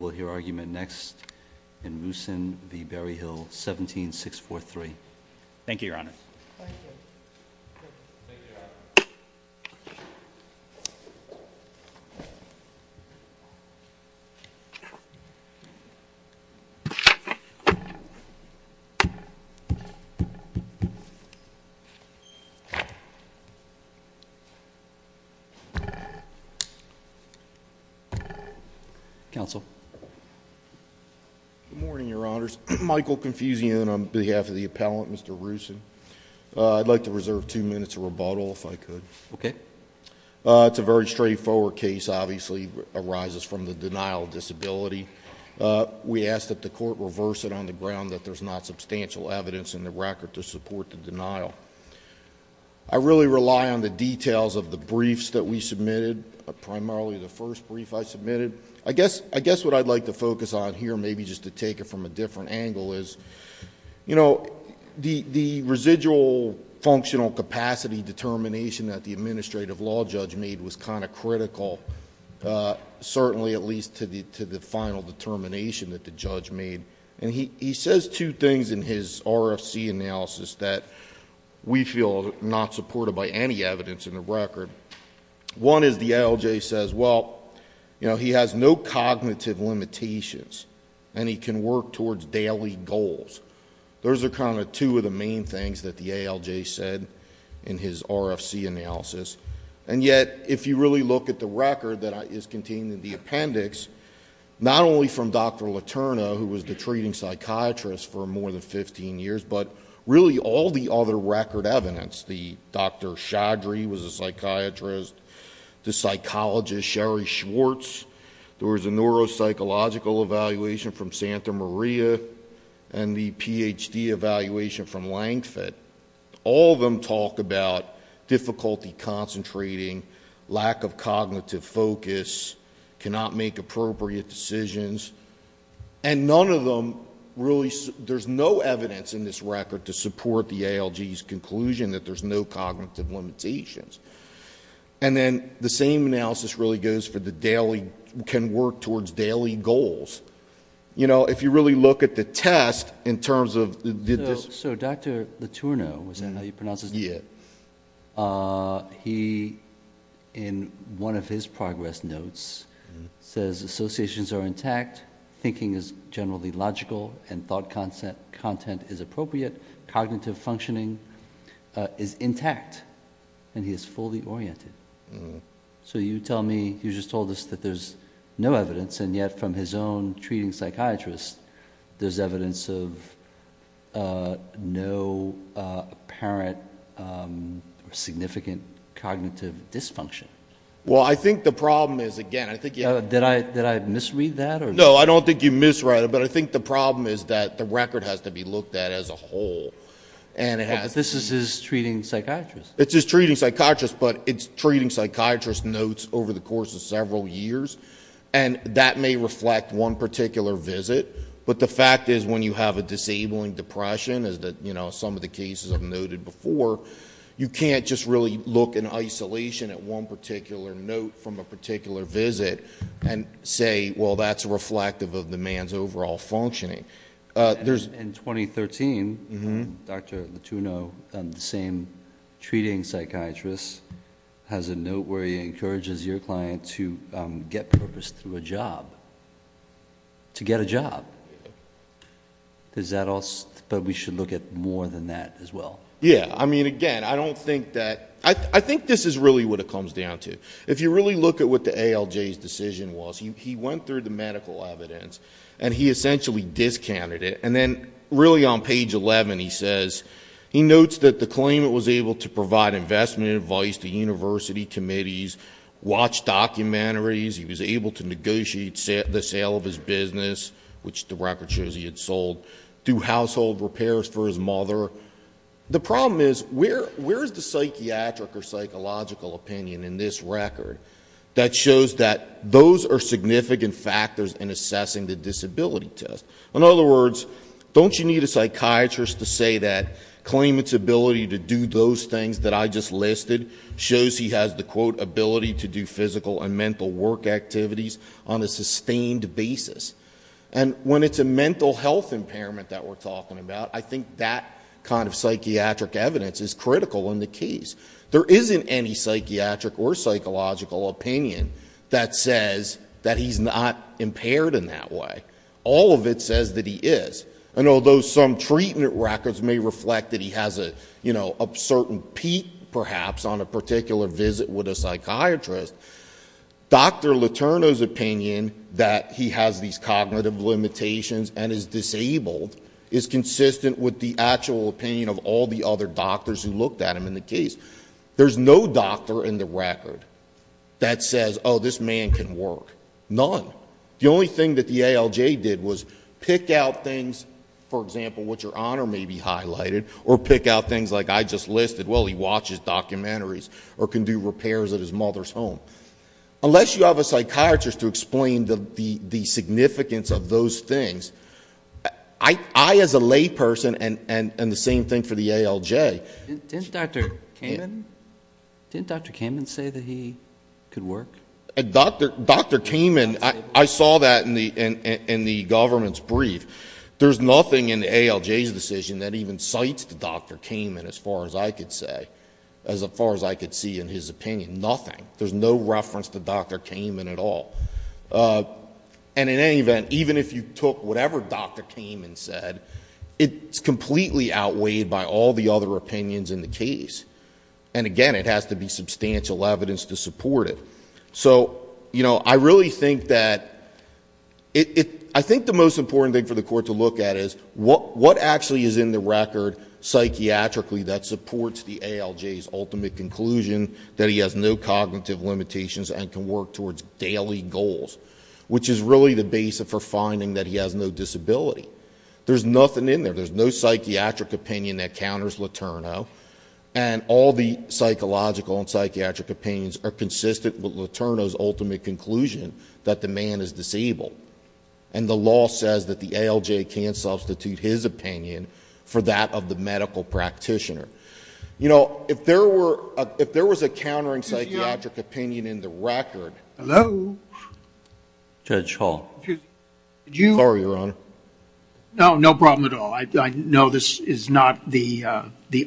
We'll hear argument next in Mooson v. Berryhill, 17-643. Thank you, Your Honor. Thank you. Thank you, Your Honor. Counsel. Good morning, Your Honors. Michael Confusio on behalf of the appellant, Mr. Roosin. I'd like to reserve two minutes of rebuttal, if I could. Okay. It's a very straightforward case, obviously arises from the denial of disability. We ask that the court reverse it on the ground that there's not substantial evidence in the record to support the denial. I really rely on the details of the briefs that we submitted, primarily the first brief I submitted. I guess what I'd like to focus on here, maybe just to take it from a different angle, is the residual functional capacity determination that the administrative law judge made was kind of critical, certainly at least to the final determination that the judge made. He says two things in his RFC analysis that we feel are not supported by any evidence in the record. One is the ALJ says, well, you know, he has no cognitive limitations, and he can work towards daily goals. Those are kind of two of the main things that the ALJ said in his RFC analysis. And yet, if you really look at the record that is contained in the appendix, not only from Dr. Letourneau, who was the treating psychiatrist for more than 15 years, but really all the other record evidence, the Dr. Chaudhry was a psychiatrist, the psychologist Sherry Schwartz, there was a neuropsychological evaluation from Santa Maria, and the PhD evaluation from Langford. All of them talk about difficulty concentrating, lack of cognitive focus, cannot make appropriate decisions, and none of them really, there's no evidence in this record to support the ALJ's conclusion that there's no cognitive limitations. And then the same analysis really goes for the daily, can work towards daily goals. You know, if you really look at the test in terms of, did this. So Dr. Letourneau, is that how you pronounce his name? Yeah. He, in one of his progress notes, says associations are intact, thinking is generally logical, and thought content is appropriate, cognitive functioning is intact, and he is fully oriented. So you tell me, you just told us that there's no evidence, and yet from his own treating psychiatrist, there's evidence of no apparent significant cognitive dysfunction. Well, I think the problem is, again, I think you have to. Did I misread that? No, I don't think you misread it, but I think the problem is that the record has to be looked at as a whole. But this is his treating psychiatrist. It's his treating psychiatrist, but it's treating psychiatrist notes over the course of several years, and that may reflect one particular visit. But the fact is, when you have a disabling depression, as some of the cases have noted before, you can't just really look in isolation at one particular note from a particular visit and say, well, that's reflective of the man's overall functioning. In 2013, Dr. Letourneau, the same treating psychiatrist, has a note where he encourages your client to get purpose through a job, to get a job. Is that all? But we should look at more than that as well. Yeah. I mean, again, I don't think that ñ I think this is really what it comes down to. If you really look at what the ALJ's decision was, he went through the medical evidence, and he essentially discounted it. And then really on page 11, he says he notes that the claimant was able to provide investment advice to university committees, watch documentaries, he was able to negotiate the sale of his business, which the record shows he had sold, do household repairs for his mother. The problem is, where is the psychiatric or psychological opinion in this record that shows that those are significant factors in assessing the disability test? In other words, don't you need a psychiatrist to say that claimant's ability to do those things that I just listed shows he has the, quote, ability to do physical and mental work activities on a sustained basis? And when it's a mental health impairment that we're talking about, I think that kind of psychiatric evidence is critical in the case. There isn't any psychiatric or psychological opinion that says that he's not impaired in that way. All of it says that he is. And although some treatment records may reflect that he has a certain peak, perhaps, on a particular visit with a psychiatrist, Dr. Letourneau's opinion that he has these cognitive limitations and is disabled is consistent with the actual opinion of all the other doctors who looked at him in the case. There's no doctor in the record that says, oh, this man can work. None. The only thing that the ALJ did was pick out things, for example, what your honor may be highlighted, or pick out things like I just listed. Well, he watches documentaries or can do repairs at his mother's home. Unless you have a psychiatrist to explain the significance of those things, I, as a layperson, and the same thing for the ALJ. Didn't Dr. Kamen say that he could work? Dr. Kamen, I saw that in the government's brief. There's nothing in the ALJ's decision that even cites Dr. Kamen as far as I could say, as far as I could see in his opinion. Nothing. There's no reference to Dr. Kamen at all. And in any event, even if you took whatever Dr. Kamen said, it's completely outweighed by all the other opinions in the case. And again, it has to be substantial evidence to support it. So, you know, I really think that it, I think the most important thing for the court to look at is what actually is in the record psychiatrically that supports the ALJ's ultimate conclusion that he has no cognitive limitations and can work towards daily goals, which is really the basis for finding that he has no disability. There's nothing in there. There's no psychiatric opinion that counters Letourneau. And all the psychological and psychiatric opinions are consistent with Letourneau's ultimate conclusion that the man is disabled. And the law says that the ALJ can substitute his opinion for that of the medical practitioner. You know, if there was a countering psychiatric opinion in the record... Hello? Judge Hall. Sorry, Your Honor. No, no problem at all. I know this is not the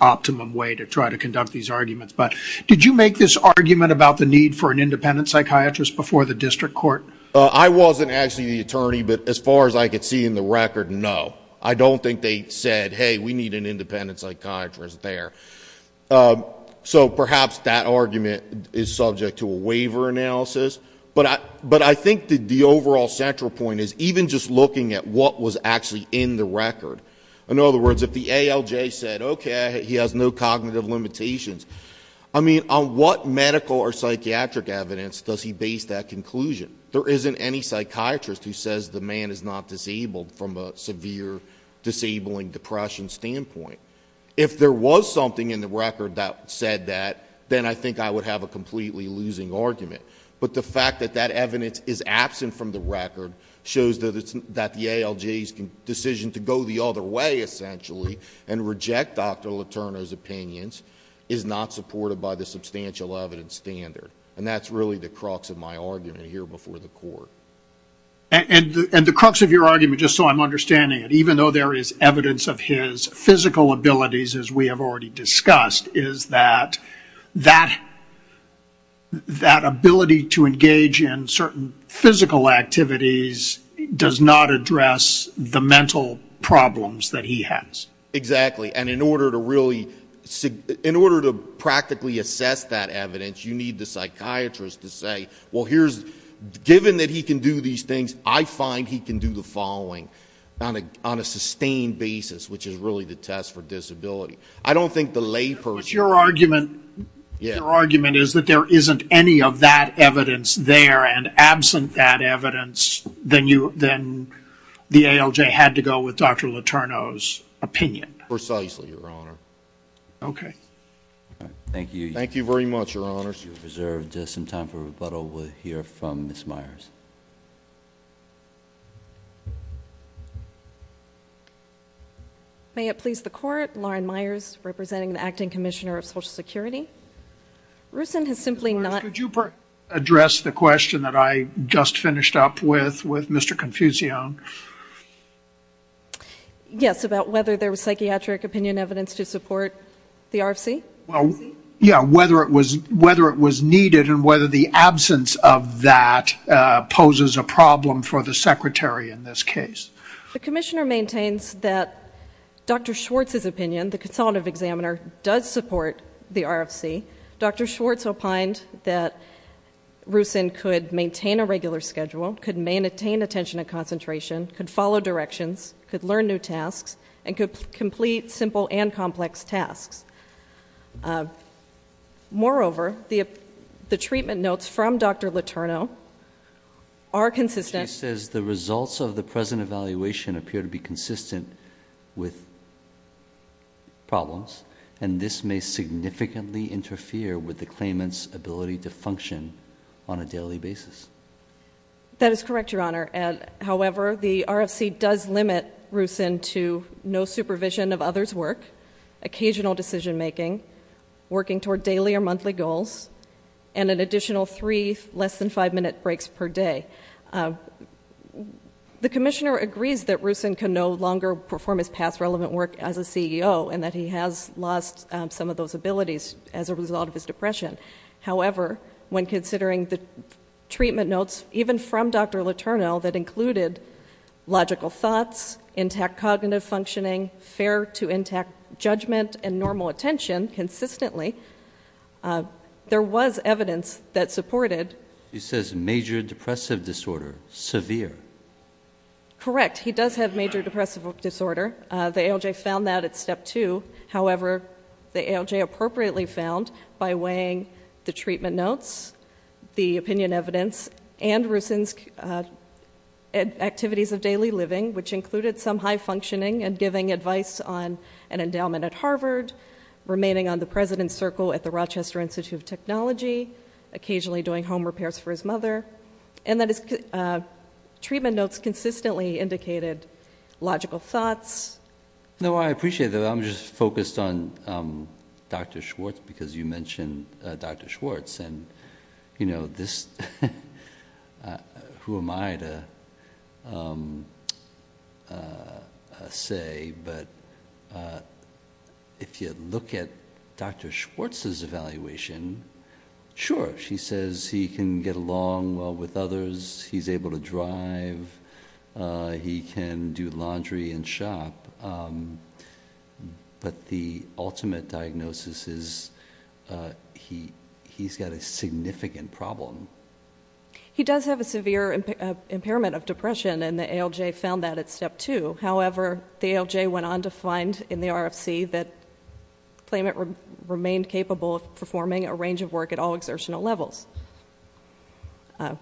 optimum way to try to conduct these arguments, but did you make this argument about the need for an independent psychiatrist before the district court? I wasn't actually the attorney, but as far as I could see in the record, no. I don't think they said, hey, we need an independent psychiatrist there. So perhaps that argument is subject to a waiver analysis. But I think the overall central point is even just looking at what was actually in the record. In other words, if the ALJ said, okay, he has no cognitive limitations, I mean, on what medical or psychiatric evidence does he base that conclusion? There isn't any psychiatrist who says the man is not disabled from a severe disabling depression standpoint. If there was something in the record that said that, then I think I would have a completely losing argument. But the fact that that evidence is absent from the record shows that the ALJ's decision to go the other way, essentially, and reject Dr. Letourneau's opinions is not supported by the substantial evidence standard. And that's really the crux of my argument here before the court. And the crux of your argument, just so I'm understanding it, even though there is evidence of his physical abilities as we have already discussed, is that that ability to engage in certain physical activities does not address the mental problems that he has. Exactly. And in order to practically assess that evidence, you need the psychiatrist to say, well, given that he can do these things, I find he can do the following on a sustained basis, which is really the test for disability. I don't think the lay person But your argument is that there isn't any of that evidence there. And absent that evidence, then the ALJ had to go with Dr. Letourneau's opinion. Precisely, Your Honor. Okay. Thank you. Thank you very much, Your Honors. We reserve just some time for rebuttal. We'll hear from Ms. Myers. May it please the Court. Lauren Myers, representing the Acting Commissioner of Social Security. Rusin has simply not Ms. Myers, could you address the question that I just finished up with, with Mr. Confucione? Yes, about whether there was psychiatric opinion evidence to support the RFC? Yeah, whether it was needed and whether the absence of that poses a problem for the Secretary in this case. The Commissioner maintains that Dr. Schwartz's opinion, the Consultative Examiner, does support the RFC. Dr. Schwartz opined that Rusin could maintain a regular schedule, could maintain attention and concentration, could follow directions, could learn new tasks, and could complete simple and complex tasks. Moreover, the treatment notes from Dr. Letourneau are consistent She says the results of the present evaluation appear to be consistent with problems, and this may significantly interfere with the claimant's ability to function on a daily basis. That is correct, Your Honor. However, the RFC does limit Rusin to no supervision of others' work, occasional decision-making, working toward daily or monthly goals, and an additional three less-than-five-minute breaks per day. The Commissioner agrees that Rusin can no longer perform his past relevant work as a CEO and that he has lost some of those abilities as a result of his depression. However, when considering the treatment notes, even from Dr. Letourneau, that included logical thoughts, intact cognitive functioning, fair to intact judgment, and normal attention consistently, there was evidence that supported He says major depressive disorder, severe. Correct. He does have major depressive disorder. The ALJ found that at Step 2. However, the ALJ appropriately found, by weighing the treatment notes, the opinion evidence, and Rusin's activities of daily living, which included some high functioning and giving advice on an endowment at Harvard, remaining on the president's circle at the Rochester Institute of Technology, occasionally doing home repairs for his mother, and that his treatment notes consistently indicated logical thoughts. No, I appreciate that. I'm just focused on Dr. Schwartz because you mentioned Dr. Schwartz. And, you know, who am I to say, but if you look at Dr. Schwartz's evaluation, sure, she says he can get along well with others, he's able to drive, he can do laundry and shop, but the ultimate diagnosis is he's got a significant problem. He does have a severe impairment of depression, and the ALJ found that at Step 2. However, the ALJ went on to find in the RFC that Klayment remained capable of performing a range of work at all exertional levels.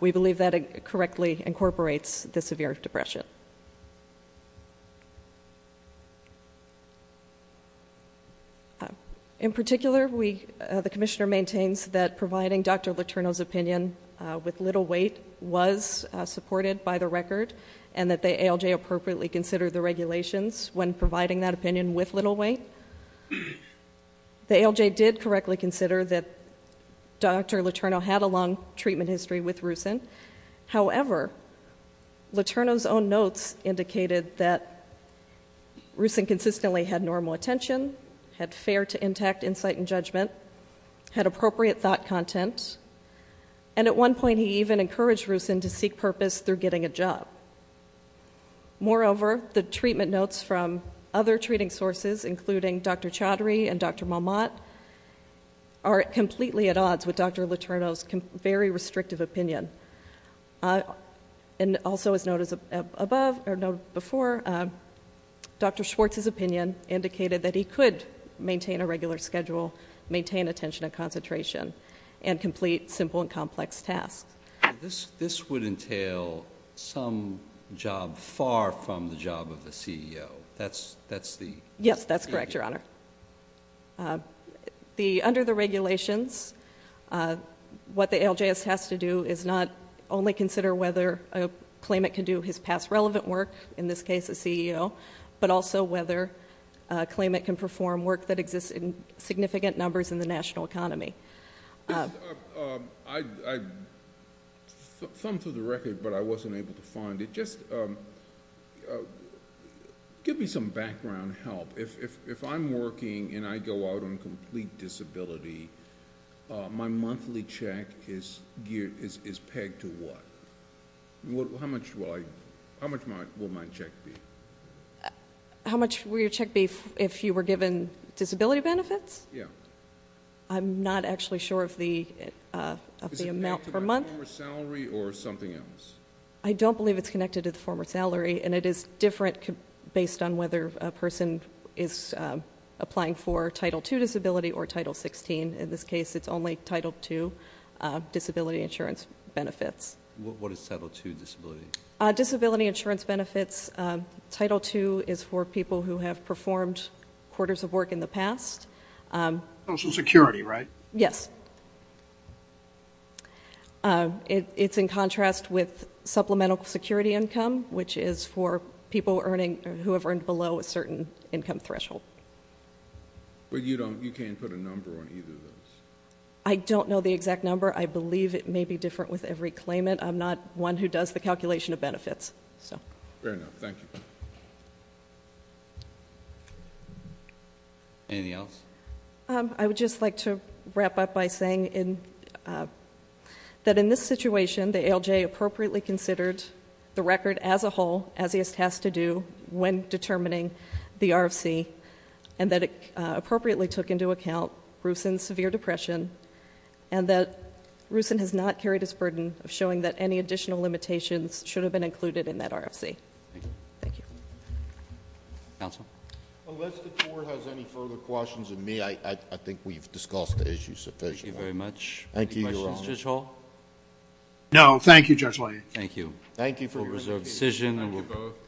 We believe that it correctly incorporates the severe depression. In particular, the commissioner maintains that providing Dr. Letourneau's opinion with little weight was supported by the record and that the ALJ appropriately considered the regulations when providing that opinion with little weight. The ALJ did correctly consider that Dr. Letourneau had a long treatment history with Rucin. However, Letourneau's own notes indicated that Rucin consistently had normal attention, had fair to intact insight and judgment, had appropriate thought content, and at one point he even encouraged Rucin to seek purpose through getting a job. Moreover, the treatment notes from other treating sources, including Dr. Chaudhry and Dr. Malmott, are completely at odds with Dr. Letourneau's very restrictive opinion. Also, as noted before, Dr. Schwartz's opinion indicated that he could maintain a regular schedule, maintain attention and concentration, and complete simple and complex tasks. This would entail some job far from the job of the CEO. Yes, that's correct, Your Honor. Under the regulations, what the ALJ has to do is not only consider whether a claimant can do his past relevant work, in this case a CEO, but also whether a claimant can perform work that exists in significant numbers in the national economy. I thumbed through the record, but I wasn't able to find it. Just give me some background help. If I'm working and I go out on complete disability, my monthly check is pegged to what? How much will my check be? How much will your check be if you were given disability benefits? Yeah. I'm not actually sure of the amount per month. Is it connected to the former salary or something else? I don't believe it's connected to the former salary, and it is different based on whether a person is applying for Title II disability or Title XVI. In this case, it's only Title II disability insurance benefits. What is Title II disability? Disability insurance benefits. Title II is for people who have performed quarters of work in the past. Social security, right? Yes. It's in contrast with supplemental security income, which is for people who have earned below a certain income threshold. But you can't put a number on either of those? I don't know the exact number. I believe it may be different with every claimant. I'm not one who does the calculation of benefits. Fair enough. Thank you. Anything else? I would just like to wrap up by saying that in this situation, the ALJ appropriately considered the record as a whole, as he is tasked to do when determining the RFC, and that it appropriately took into account Rusan's severe depression and that Rusan has not carried his burden of showing that any additional limitations should have been included in that RFC. Thank you. Thank you. Counsel? Unless the Court has any further questions of me, I think we've discussed the issue sufficiently. Thank you very much. Thank you, Your Honor. Any questions, Judge Hall? No. Thank you, Judge Leahy. Thank you. We'll reserve the decision. Thank you both.